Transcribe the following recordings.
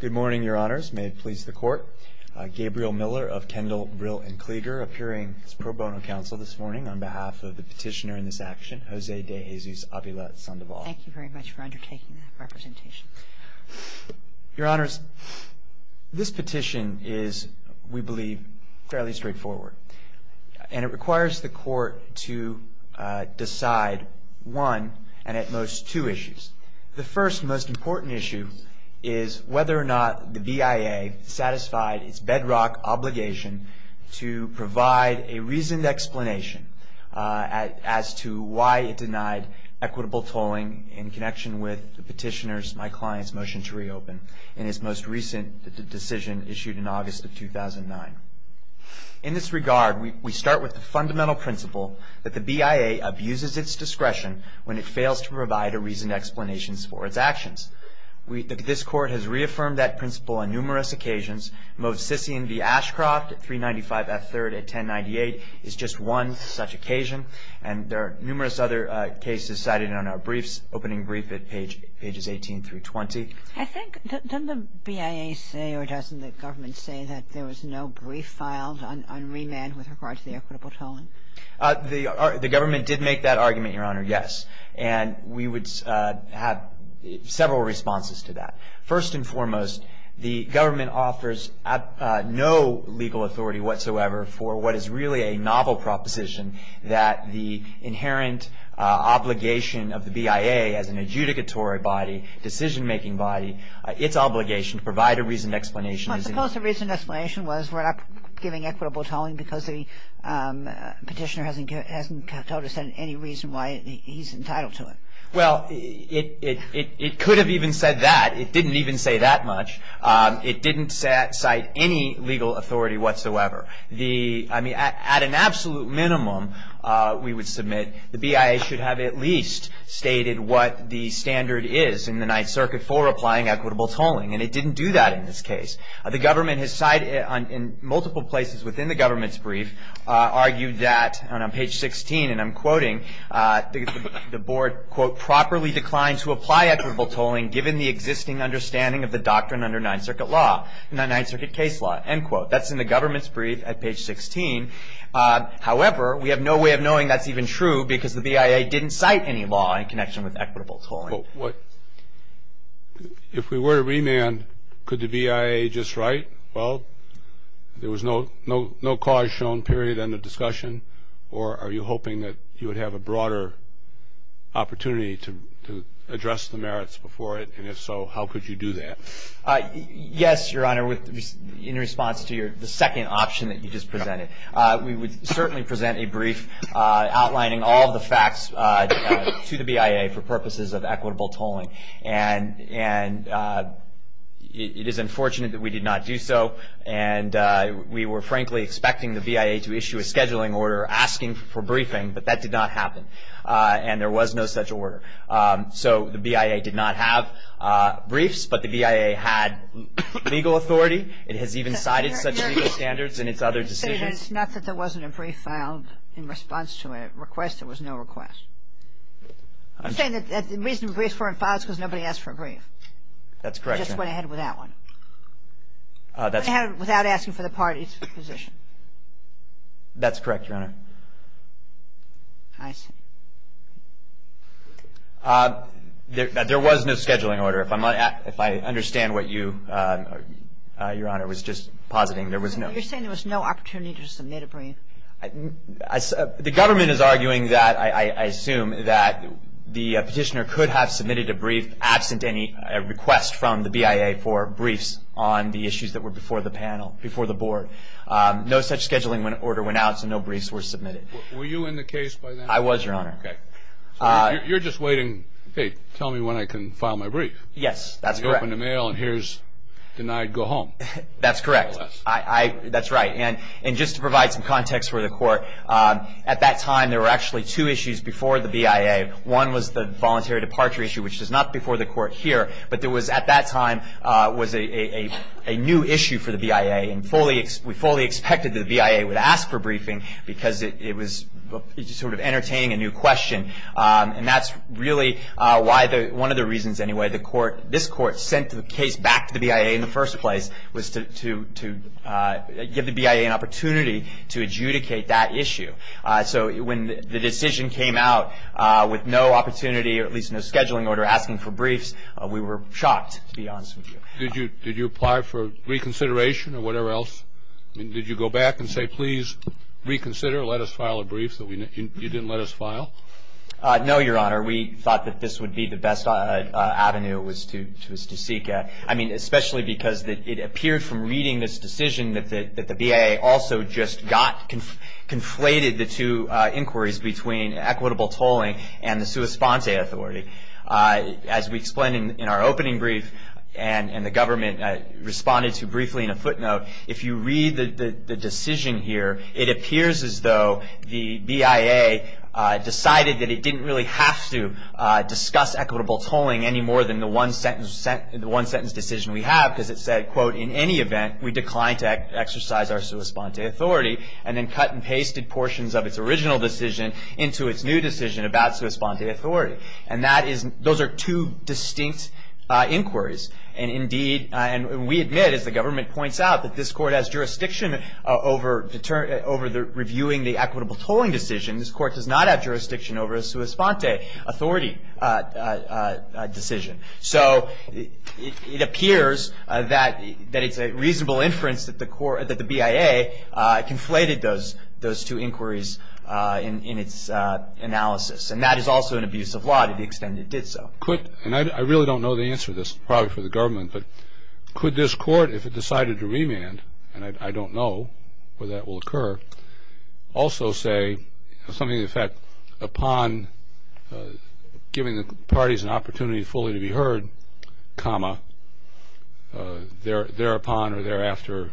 Good morning, Your Honors. May it please the Court, Gabriel Miller of Kendall, Brill, and Klieger appearing as pro bono counsel this morning on behalf of the petitioner in this action, Jose De Jesus Avila Sandoval. Thank you very much for undertaking that representation. Your Honors, this petition is, we believe, fairly straightforward, and it requires the Court to decide one, and at most, two issues. The first and most important issue is whether or not the BIA satisfied its bedrock obligation to provide a reasoned explanation as to why it denied equitable tolling in connection with the petitioner's, my client's, motion to reopen in his most recent decision issued in August of 2009. In this regard, we start with the fundamental principle that the BIA abuses its discretion when it fails to provide a reasoned explanation for its actions. This Court has reaffirmed that principle on numerous occasions. Most Sissian v. Ashcroft at 395 F. 3rd at 1098 is just one such occasion, and there are numerous other cases cited in our briefs, opening brief at pages 18 through 20. I think, doesn't the BIA say, or doesn't the government say, that there was no brief filed on remand with regard to the equitable tolling? The government did make that argument, Your Honor, yes. And we would have several responses to that. First and foremost, the government offers no legal authority whatsoever for what is really a novel proposition that the inherent obligation of the BIA as an adjudicatory body, decision-making body, its obligation to provide a reasoned explanation. Well, I suppose the reasoned explanation was we're not giving equitable tolling because the petitioner hasn't told us any reason why he's entitled to it. Well, it could have even said that. It didn't even say that much. It didn't cite any legal authority whatsoever. I mean, at an absolute minimum, we would submit the BIA should have at least stated what the standard is in the Ninth Circuit for applying equitable tolling, and it didn't do that in this case. The government has cited, in multiple places within the government's brief, argued that, on page 16, and I'm quoting, the board, quote, properly declined to apply equitable tolling given the existing understanding of the doctrine under Ninth Circuit law, Ninth Circuit case law, end quote. That's in the government's brief at page 16. However, we have no way of knowing that's even true because the BIA didn't cite any law in connection with equitable tolling. If we were to remand, could the BIA just write, well, there was no cause shown, period, under discussion, or are you hoping that you would have a broader opportunity to address the merits before it, and if so, how could you do that? Yes, Your Honor, in response to the second option that you just presented. We would certainly present a brief outlining all of the facts to the BIA for purposes of equitable tolling, and it is unfortunate that we did not do so, and we were frankly expecting the BIA to issue a scheduling order asking for briefing, but that did not happen, and there was no such order. So the BIA did not have briefs, but the BIA had legal authority. It has even cited such legal standards in its other decisions. It's not that there wasn't a brief filed in response to a request. There was no request. I'm saying that the reason briefs weren't filed is because nobody asked for a brief. That's correct, Your Honor. They just went ahead with that one. Without asking for the parties' position. That's correct, Your Honor. I see. There was no scheduling order. If I understand what you, Your Honor, was just positing, there was no. You're saying there was no opportunity to submit a brief. The government is arguing that, I assume, that the petitioner could have submitted a brief absent any request from the BIA for briefs on the issues that were before the panel, before the board. No such scheduling order went out, so no briefs were submitted. Were you in the case by then? I was, Your Honor. Okay. You're just waiting, hey, tell me when I can file my brief. Yes, that's correct. You open the mail and here's denied go home. That's correct. That's right. And just to provide some context for the court, at that time there were actually two issues before the BIA. One was the voluntary departure issue, which was not before the court here, but there was at that time was a new issue for the BIA. And we fully expected that the BIA would ask for briefing because it was sort of entertaining a new question. And that's really one of the reasons, anyway, this court sent the case back to the BIA in the first place was to give the BIA an opportunity to adjudicate that issue. So when the decision came out with no opportunity or at least no scheduling order asking for briefs, did you apply for reconsideration or whatever else? I mean, did you go back and say, please reconsider, let us file a brief that you didn't let us file? No, Your Honor. We thought that this would be the best avenue to seek, I mean, especially because it appeared from reading this decision that the BIA also just got conflated the two inquiries between equitable tolling and the sua sponte authority. As we explained in our opening brief and the government responded to briefly in a footnote, if you read the decision here, it appears as though the BIA decided that it didn't really have to discuss equitable tolling any more than the one sentence decision we have because it said, quote, in any event, we decline to exercise our sua sponte authority and then cut and pasted portions of its original decision into its new decision about sua sponte authority. And those are two distinct inquiries. And we admit, as the government points out, that this court has jurisdiction over reviewing the equitable tolling decision. This court does not have jurisdiction over a sua sponte authority decision. So it appears that it's a reasonable inference that the BIA conflated those two inquiries in its analysis. And that is also an abuse of law to the extent it did so. And I really don't know the answer to this, probably for the government, but could this court, if it decided to remand, and I don't know whether that will occur, also say something to the effect upon giving the parties an opportunity fully to be heard, comma, thereupon or thereafter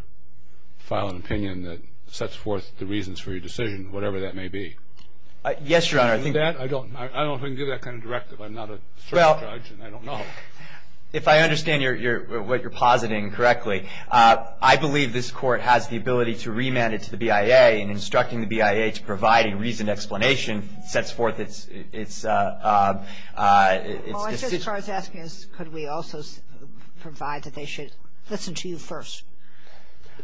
file an opinion that sets forth the reasons for your decision, whatever that may be? Yes, Your Honor. I don't know if I can give that kind of directive. I'm not a judge, and I don't know. If I understand what you're positing correctly, I believe this court has the ability to remand it to the BIA and instructing the BIA to provide a reasoned explanation that sets forth its decision. Well, I guess what I was asking is could we also provide that they should listen to you first?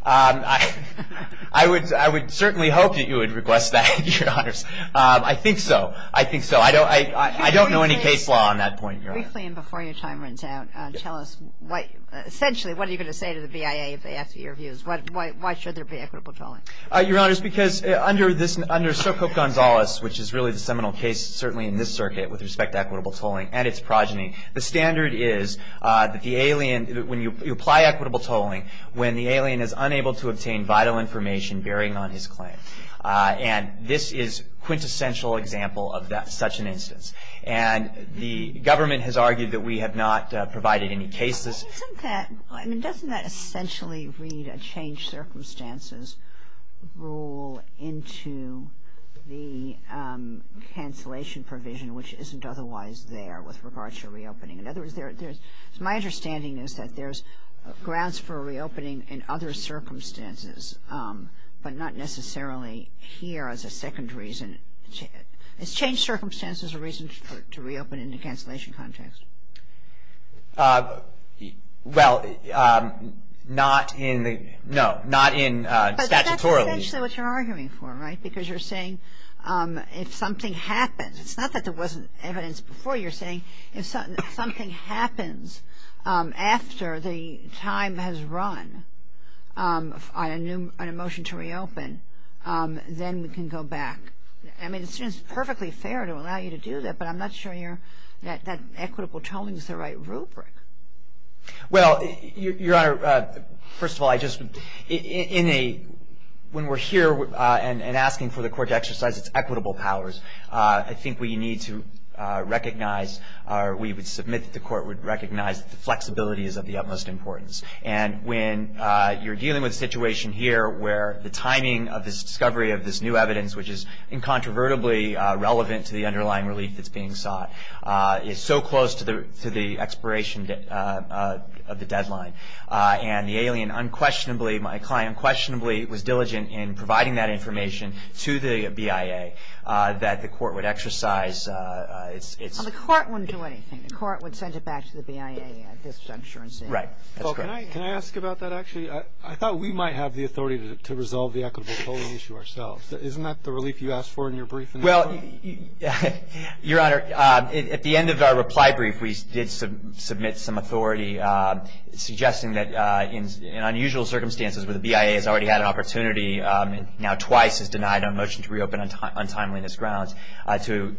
I would certainly hope that you would request that, Your Honors. I think so. I think so. I don't know any case law on that point, Your Honor. Briefly and before your time runs out, tell us essentially what are you going to say to the BIA if they ask you your views? Why should there be equitable tolling? Your Honors, because under Sokoke Gonzalez, which is really the seminal case, certainly in this circuit with respect to equitable tolling and its progeny, the standard is that the alien, when you apply equitable tolling, when the alien is unable to obtain vital information bearing on his claim. And this is a quintessential example of such an instance. And the government has argued that we have not provided any cases. Doesn't that essentially read a changed circumstances rule into the cancellation provision, which isn't otherwise there with regard to reopening? In other words, my understanding is that there's grounds for reopening in other circumstances, but not necessarily here as a second reason. Has changed circumstances a reason to reopen in the cancellation context? Well, not in the, no, not in statutorily. But that's essentially what you're arguing for, right, because you're saying if something happens, it's not that there wasn't evidence before. You're saying if something happens after the time has run on a motion to reopen, then we can go back. I mean, it seems perfectly fair to allow you to do that, but I'm not sure that equitable tolling is the right rubric. Well, Your Honor, first of all, I just, in a, when we're here and asking for the court to exercise its equitable powers, I think we need to recognize or we would submit that the court would recognize the flexibility is of the utmost importance. And when you're dealing with a situation here where the timing of this discovery of this new evidence, which is incontrovertibly relevant to the underlying relief that's being sought, is so close to the expiration of the deadline, and the alien unquestionably, my client unquestionably was diligent in providing that information to the BIA, that the court would exercise its. Well, the court wouldn't do anything. The court would send it back to the BIA at this juncture instead. Right. That's correct. Well, can I ask about that actually? I thought we might have the authority to resolve the equitable tolling issue ourselves. Isn't that the relief you asked for in your brief? Well, Your Honor, at the end of our reply brief, we did submit some authority suggesting that in unusual circumstances where the BIA has already had an opportunity and now twice is denied a motion to reopen on timeliness grounds to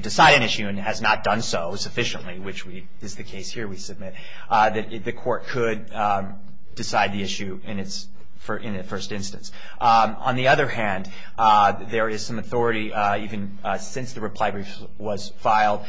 decide an issue and has not done so sufficiently, which is the case here we submit, that the court could decide the issue in its first instance. On the other hand, there is some authority even since the reply brief was filed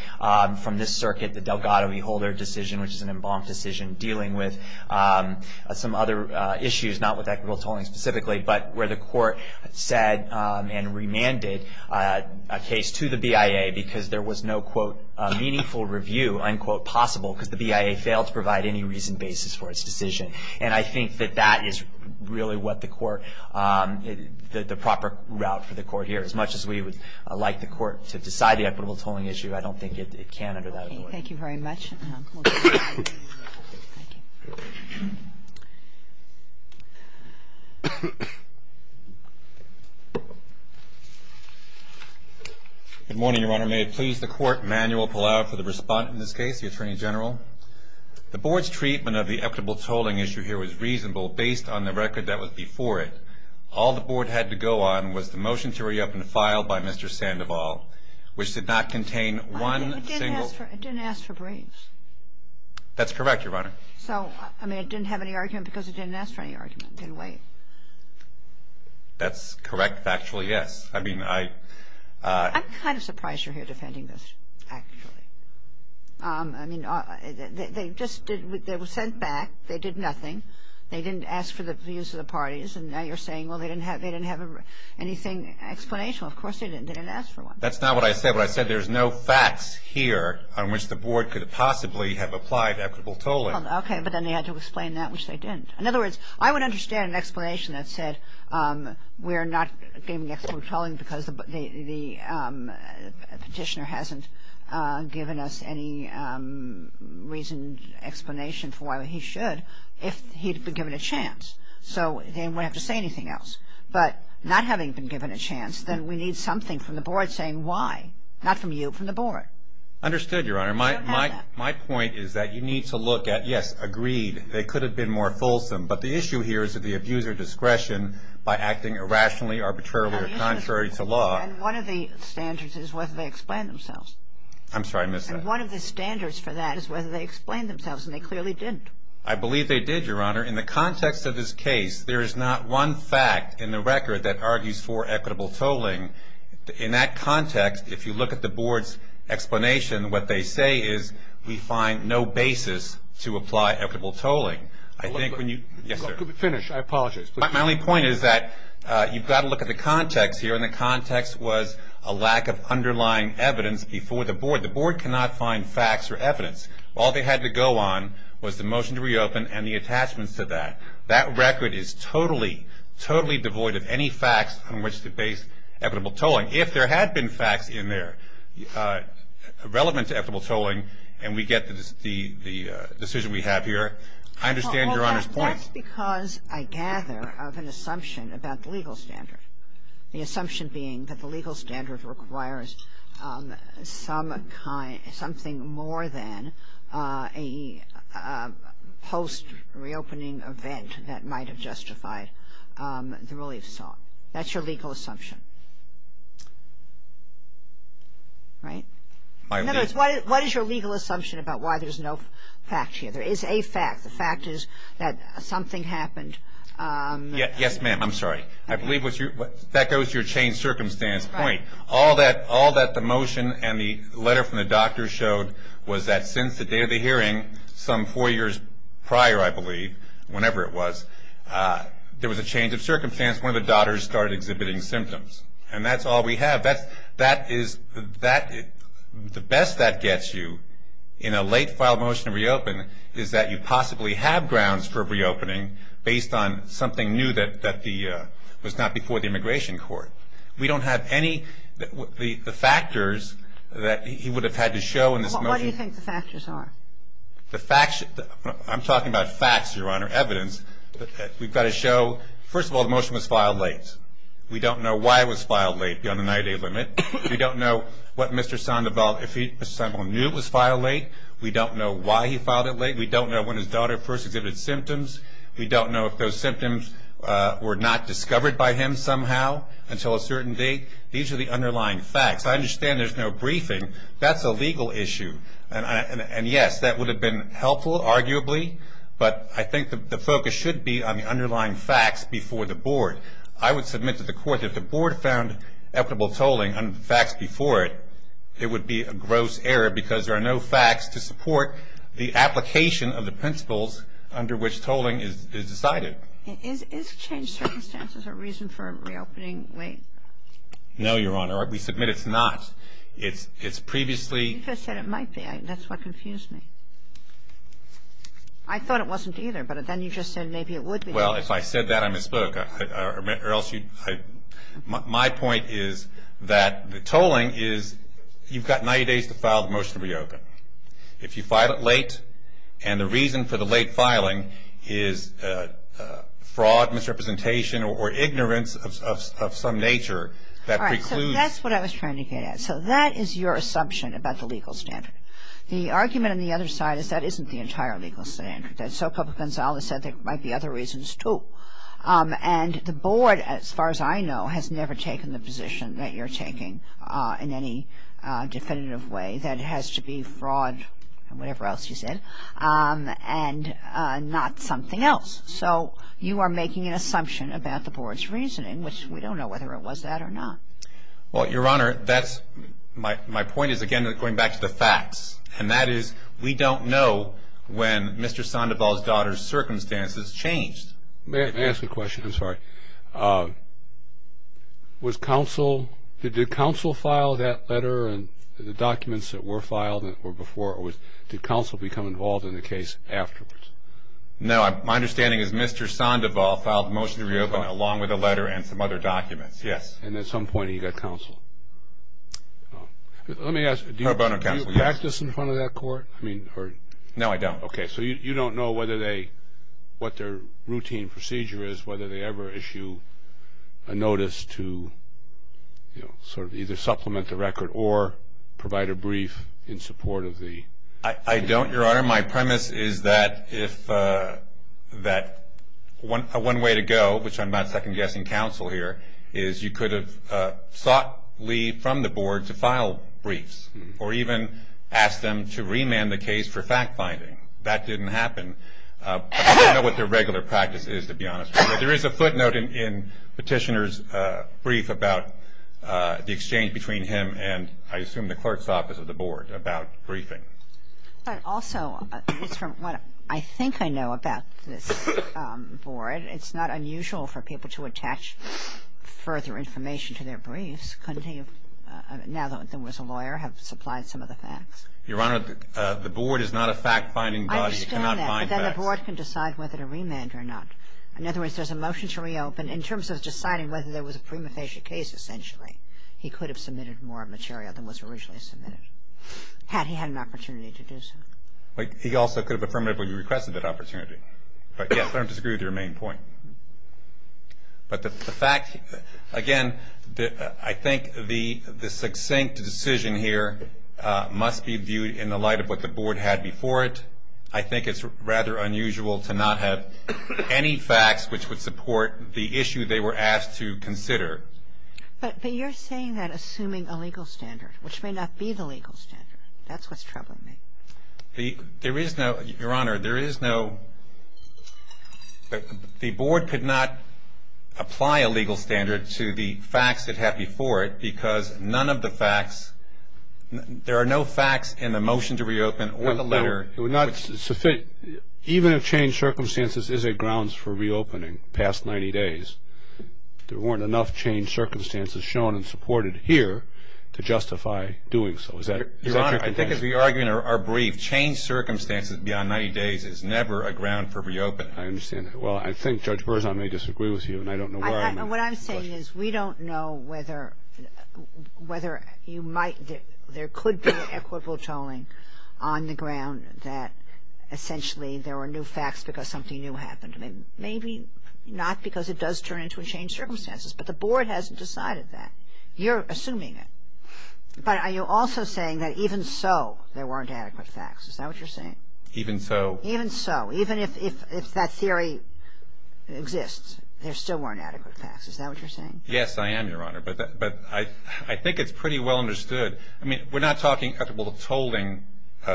from this circuit, the Delgado v. Holder decision, which is an embalmed decision dealing with some other issues, not with equitable tolling specifically, but where the court said and remanded a case to the BIA because there was no, quote, meaningful review, unquote, possible, because the BIA failed to provide any reason basis for its decision. And I think that that is really what the court, the proper route for the court here. As much as we would like the court to decide the equitable tolling issue, I don't think it can under that order. Thank you very much. Good morning, Your Honor. May it please the court, Manuel Palau for the respondent in this case, the Attorney General. The board's treatment of the equitable tolling issue here was reasonable based on the record that was before it. All the board had to go on was the motion to reopen a file by Mr. Sandoval, which did not contain one single It didn't ask for briefs. That's correct, Your Honor. So, I mean, it didn't have any argument because it didn't ask for any argument in a way. That's correct, factually, yes. I mean, I I'm kind of surprised you're here defending this, actually. I mean, they just did, they were sent back. They did nothing. They didn't ask for the views of the parties. And now you're saying, well, they didn't have, they didn't have anything explanational. Of course they didn't. They didn't ask for one. That's not what I said. What I said, there's no facts here on which the board could possibly have applied equitable tolling. Okay, but then they had to explain that, which they didn't. In other words, I would understand an explanation that said we're not giving equitable tolling because the petitioner hasn't given us any reason, explanation for why he should if he'd been given a chance. So they wouldn't have to say anything else. But not having been given a chance, then we need something from the board saying why. Not from you, from the board. Understood, Your Honor. My point is that you need to look at, yes, agreed, they could have been more fulsome. But the issue here is that they abused their discretion by acting irrationally, arbitrarily, or contrary to law. And one of the standards is whether they explained themselves. I'm sorry, I missed that. And one of the standards for that is whether they explained themselves, and they clearly didn't. I believe they did, Your Honor. In the context of this case, there is not one fact in the record that argues for equitable tolling. In that context, if you look at the board's explanation, what they say is we find no basis to apply equitable tolling. Yes, sir. Finish, I apologize. My only point is that you've got to look at the context here, and the context was a lack of underlying evidence before the board. The board cannot find facts or evidence. All they had to go on was the motion to reopen and the attachments to that. That record is totally, totally devoid of any facts on which to base equitable tolling. If there had been facts in there relevant to equitable tolling, and we get the decision we have here, I understand Your Honor's point. Well, that's because I gather of an assumption about the legal standard. The assumption being that the legal standard requires something more than a post-reopening event that might have justified the relief saw. That's your legal assumption, right? In other words, what is your legal assumption about why there's no fact here? There is a fact. The fact is that something happened. Yes, ma'am. I'm sorry. I believe that goes to your changed circumstance point. All that the motion and the letter from the doctor showed was that since the day of the hearing, some four years prior, I believe, whenever it was, there was a change of circumstance. One of the daughters started exhibiting symptoms, and that's all we have. The best that gets you in a late filed motion to reopen is that you possibly have grounds for reopening based on something new that was not before the immigration court. We don't have any factors that he would have had to show in this motion. What do you think the factors are? I'm talking about facts, Your Honor, evidence. We've got to show, first of all, the motion was filed late. We don't know why it was filed late beyond the 90-day limit. We don't know what Mr. Sandoval knew was filed late. We don't know why he filed it late. We don't know when his daughter first exhibited symptoms. We don't know if those symptoms were not discovered by him somehow until a certain date. These are the underlying facts. I understand there's no briefing. That's a legal issue, and, yes, that would have been helpful, arguably, but I think the focus should be on the underlying facts before the board. I would submit to the court that if the board found equitable tolling on the facts before it, it would be a gross error because there are no facts to support the application of the principles under which tolling is decided. Is change circumstances a reason for reopening late? No, Your Honor. We submit it's not. It's previously ---- You said it might be. That's what confused me. I thought it wasn't either, but then you just said maybe it would be. Well, if I said that, I misspoke. My point is that the tolling is you've got 90 days to file the motion to reopen. If you file it late and the reason for the late filing is fraud, misrepresentation, or ignorance of some nature, that precludes ---- All right, so that's what I was trying to get at. So that is your assumption about the legal standard. The argument on the other side is that isn't the entire legal standard. So Papa Gonzales said there might be other reasons, too. And the board, as far as I know, has never taken the position that you're taking in any definitive way that it has to be fraud, whatever else you said, and not something else. So you are making an assumption about the board's reasoning, which we don't know whether it was that or not. Well, Your Honor, that's my point is, again, going back to the facts. And that is we don't know when Mr. Sandoval's daughter's circumstances changed. May I ask a question? I'm sorry. Did counsel file that letter and the documents that were filed that were before, or did counsel become involved in the case afterwards? No, my understanding is Mr. Sandoval filed the motion to reopen along with a letter and some other documents, yes. And at some point he got counsel. Let me ask, do you practice in front of that court? No, I don't. Okay. So you don't know what their routine procedure is, whether they ever issue a notice to sort of either supplement the record or provide a brief in support of the? I don't, Your Honor. Your Honor, my premise is that if that one way to go, which I'm not second-guessing counsel here, is you could have sought leave from the board to file briefs or even ask them to remand the case for fact-finding. That didn't happen. I don't know what their regular practice is, to be honest with you. But there is a footnote in Petitioner's brief about the exchange between him and I assume the clerk's office of the board about briefing. But also, it's from what I think I know about this board, it's not unusual for people to attach further information to their briefs, couldn't he, now that there was a lawyer, have supplied some of the facts? Your Honor, the board is not a fact-finding body. I understand that, but then the board can decide whether to remand or not. In other words, there's a motion to reopen. In terms of deciding whether there was a prima facie case, essentially, he could have submitted more material than was originally submitted. Had he had an opportunity to do so. He also could have affirmatively requested that opportunity. But, yes, I don't disagree with your main point. But the fact, again, I think the succinct decision here must be viewed in the light of what the board had before it. I think it's rather unusual to not have any facts which would support the issue they were asked to consider. But you're saying that assuming a legal standard, which may not be the legal standard, that's what's troubling me. There is no, Your Honor, there is no, the board could not apply a legal standard to the facts it had before it because none of the facts, there are no facts in the motion to reopen or the letter. It would not, even if changed circumstances, is it grounds for reopening, past 90 days. There weren't enough changed circumstances shown and supported here to justify doing so. Is that your contention? Your Honor, I think as we argue in our brief, changed circumstances beyond 90 days is never a ground for reopening. I understand that. Well, I think Judge Berzon may disagree with you, and I don't know where I am in the question. What I'm saying is we don't know whether you might, there could be equitable tolling on the ground that essentially there were new facts because something new happened. Maybe not because it does turn into a changed circumstances, but the board hasn't decided that. You're assuming it. But are you also saying that even so, there weren't adequate facts? Is that what you're saying? Even so. Even so. Even if that theory exists, there still weren't adequate facts. Is that what you're saying? Yes, I am, Your Honor. But I think it's pretty well understood. I mean, we're not talking equitable tolling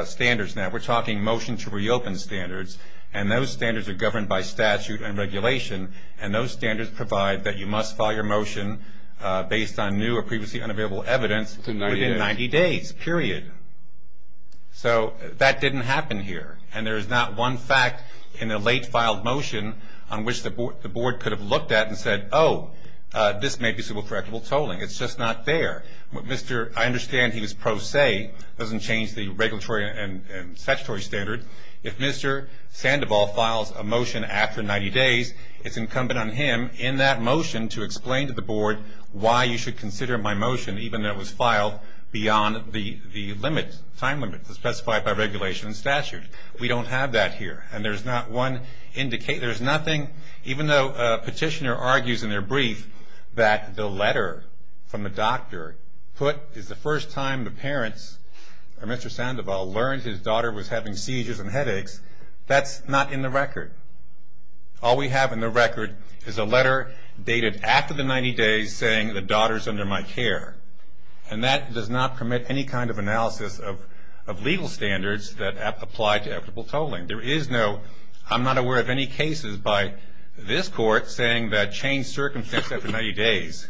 standards now. We're talking motion to reopen standards. And those standards are governed by statute and regulation. And those standards provide that you must file your motion based on new or previously unavailable evidence within 90 days, period. So that didn't happen here. And there is not one fact in the late filed motion on which the board could have looked at and said, oh, this may be suitable for equitable tolling. It's just not there. I understand he was pro se, doesn't change the regulatory and statutory standards. If Mr. Sandoval files a motion after 90 days, it's incumbent on him in that motion to explain to the board why you should consider my motion, even though it was filed beyond the time limit specified by regulation and statute. We don't have that here. And there's not one indication. There's nothing, even though a petitioner argues in their brief that the letter from the doctor put is the first time the parents or Mr. Sandoval learned his daughter was having seizures and headaches, that's not in the record. All we have in the record is a letter dated after the 90 days saying the daughter's under my care. And that does not commit any kind of analysis of legal standards that apply to equitable tolling. There is no, I'm not aware of any cases by this court saying that changed circumstance after 90 days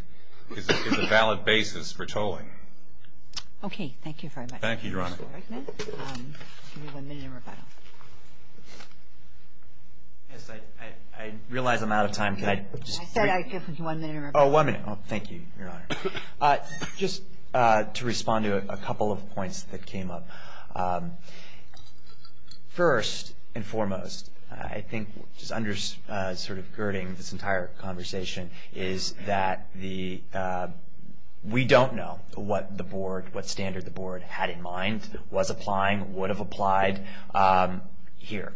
is a valid basis for tolling. Okay. Thank you very much. Thank you, Your Honor. I realize I'm out of time. I said I'd give you one minute. Oh, one minute. Thank you, Your Honor. Just to respond to a couple of points that came up. First and foremost, I think sort of girding this entire conversation, is that we don't know what standard the board had in mind, was applying, would have applied here.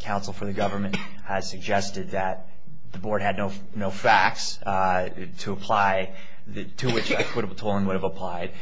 Counsel for the government has suggested that the board had no facts to apply, to which equitable tolling would have applied.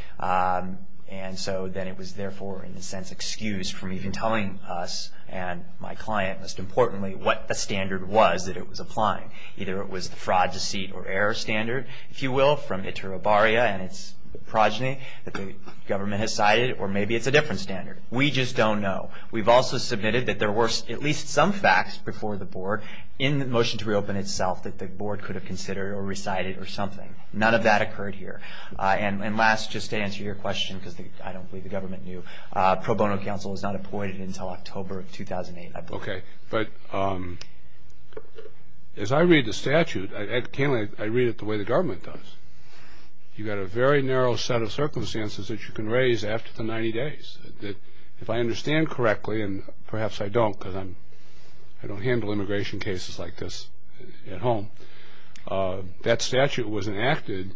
And so then it was, therefore, in a sense, excused from even telling us and my client, most importantly, what the standard was that it was applying. Either it was the fraud, deceit, or error standard, if you will, from iterobaria and its progeny, that the government has cited, or maybe it's a different standard. We just don't know. We've also submitted that there were at least some facts before the board in the motion to reopen itself that the board could have considered or recited or something. None of that occurred here. And last, just to answer your question, because I don't believe the government knew, pro bono counsel is not appointed until October of 2008, I believe. Okay. But as I read the statute, I read it the way the government does. You've got a very narrow set of circumstances that you can raise after the 90 days. If I understand correctly, and perhaps I don't because I don't handle immigration cases like this at home, that statute was enacted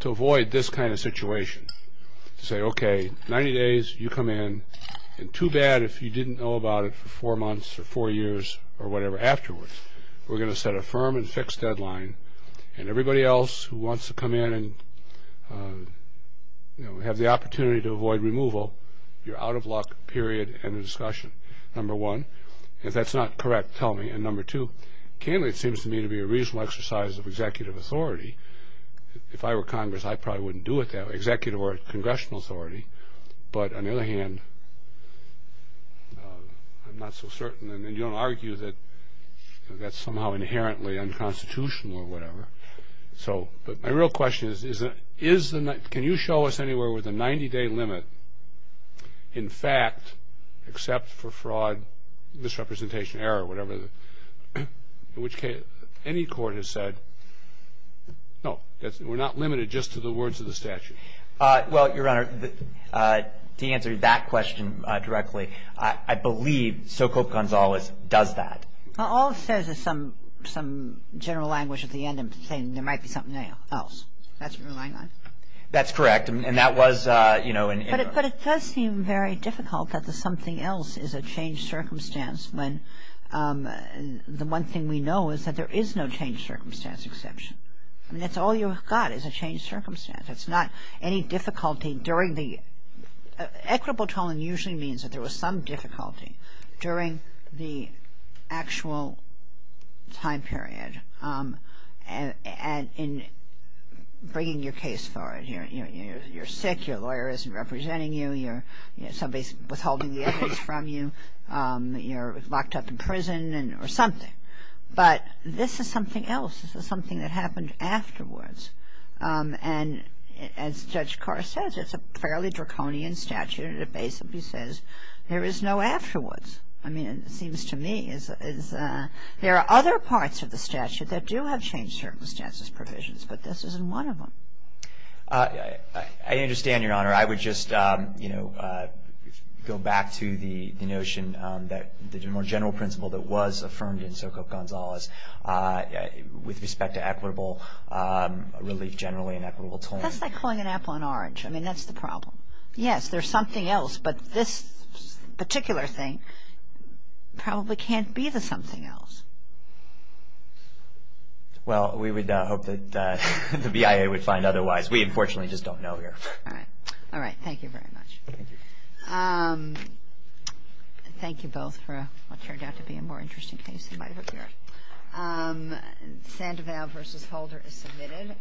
to avoid this kind of situation, to say, okay, 90 days, you come in, and too bad if you didn't know about it for four months or four years or whatever afterwards. We're going to set a firm and fixed deadline, and everybody else who wants to come in and have the opportunity to avoid removal, you're out of luck, period, end of discussion, number one. If that's not correct, tell me. And number two, candidly, it seems to me to be a reasonable exercise of executive authority. If I were Congress, I probably wouldn't do it that way, executive or congressional authority. But on the other hand, I'm not so certain. And you don't argue that that's somehow inherently unconstitutional or whatever. So my real question is, can you show us anywhere where the 90-day limit, in fact, where the 90-day limit is not limited to the words of the statute, except for fraud, misrepresentation, error, whatever, in which case any court has said, no, we're not limited just to the words of the statute? Well, Your Honor, to answer that question directly, I believe Sokolp Gonzalez does that. All it says is some general language at the end of the thing. There might be something else. That's what you're relying on? That's correct. And that was, you know. But it does seem very difficult that the something else is a changed circumstance when the one thing we know is that there is no changed circumstance exception. I mean, that's all you've got is a changed circumstance. It's not any difficulty during the – equitable tolling usually means that there was some difficulty during the actual time period in bringing your case forward. You're sick. Your lawyer isn't representing you. Somebody's withholding the evidence from you. You're locked up in prison or something. But this is something else. This is something that happened afterwards. And as Judge Carr says, it's a fairly draconian statute, and it basically says there is no afterwards. I mean, it seems to me there are other parts of the statute that do have changed circumstances provisions, but this isn't one of them. I understand, Your Honor. I would just, you know, go back to the notion that the more general principle that was affirmed in Sokoff-Gonzalez with respect to equitable relief generally and equitable tolling. That's like calling an apple an orange. I mean, that's the problem. Yes, there's something else, but this particular thing probably can't be the something else. Well, we would hope that the BIA would find otherwise. We, unfortunately, just don't know here. All right. All right. Thank you very much. Thank you. Thank you both for what turned out to be a more interesting case than I hoped for. Sandoval v. Holder is submitted.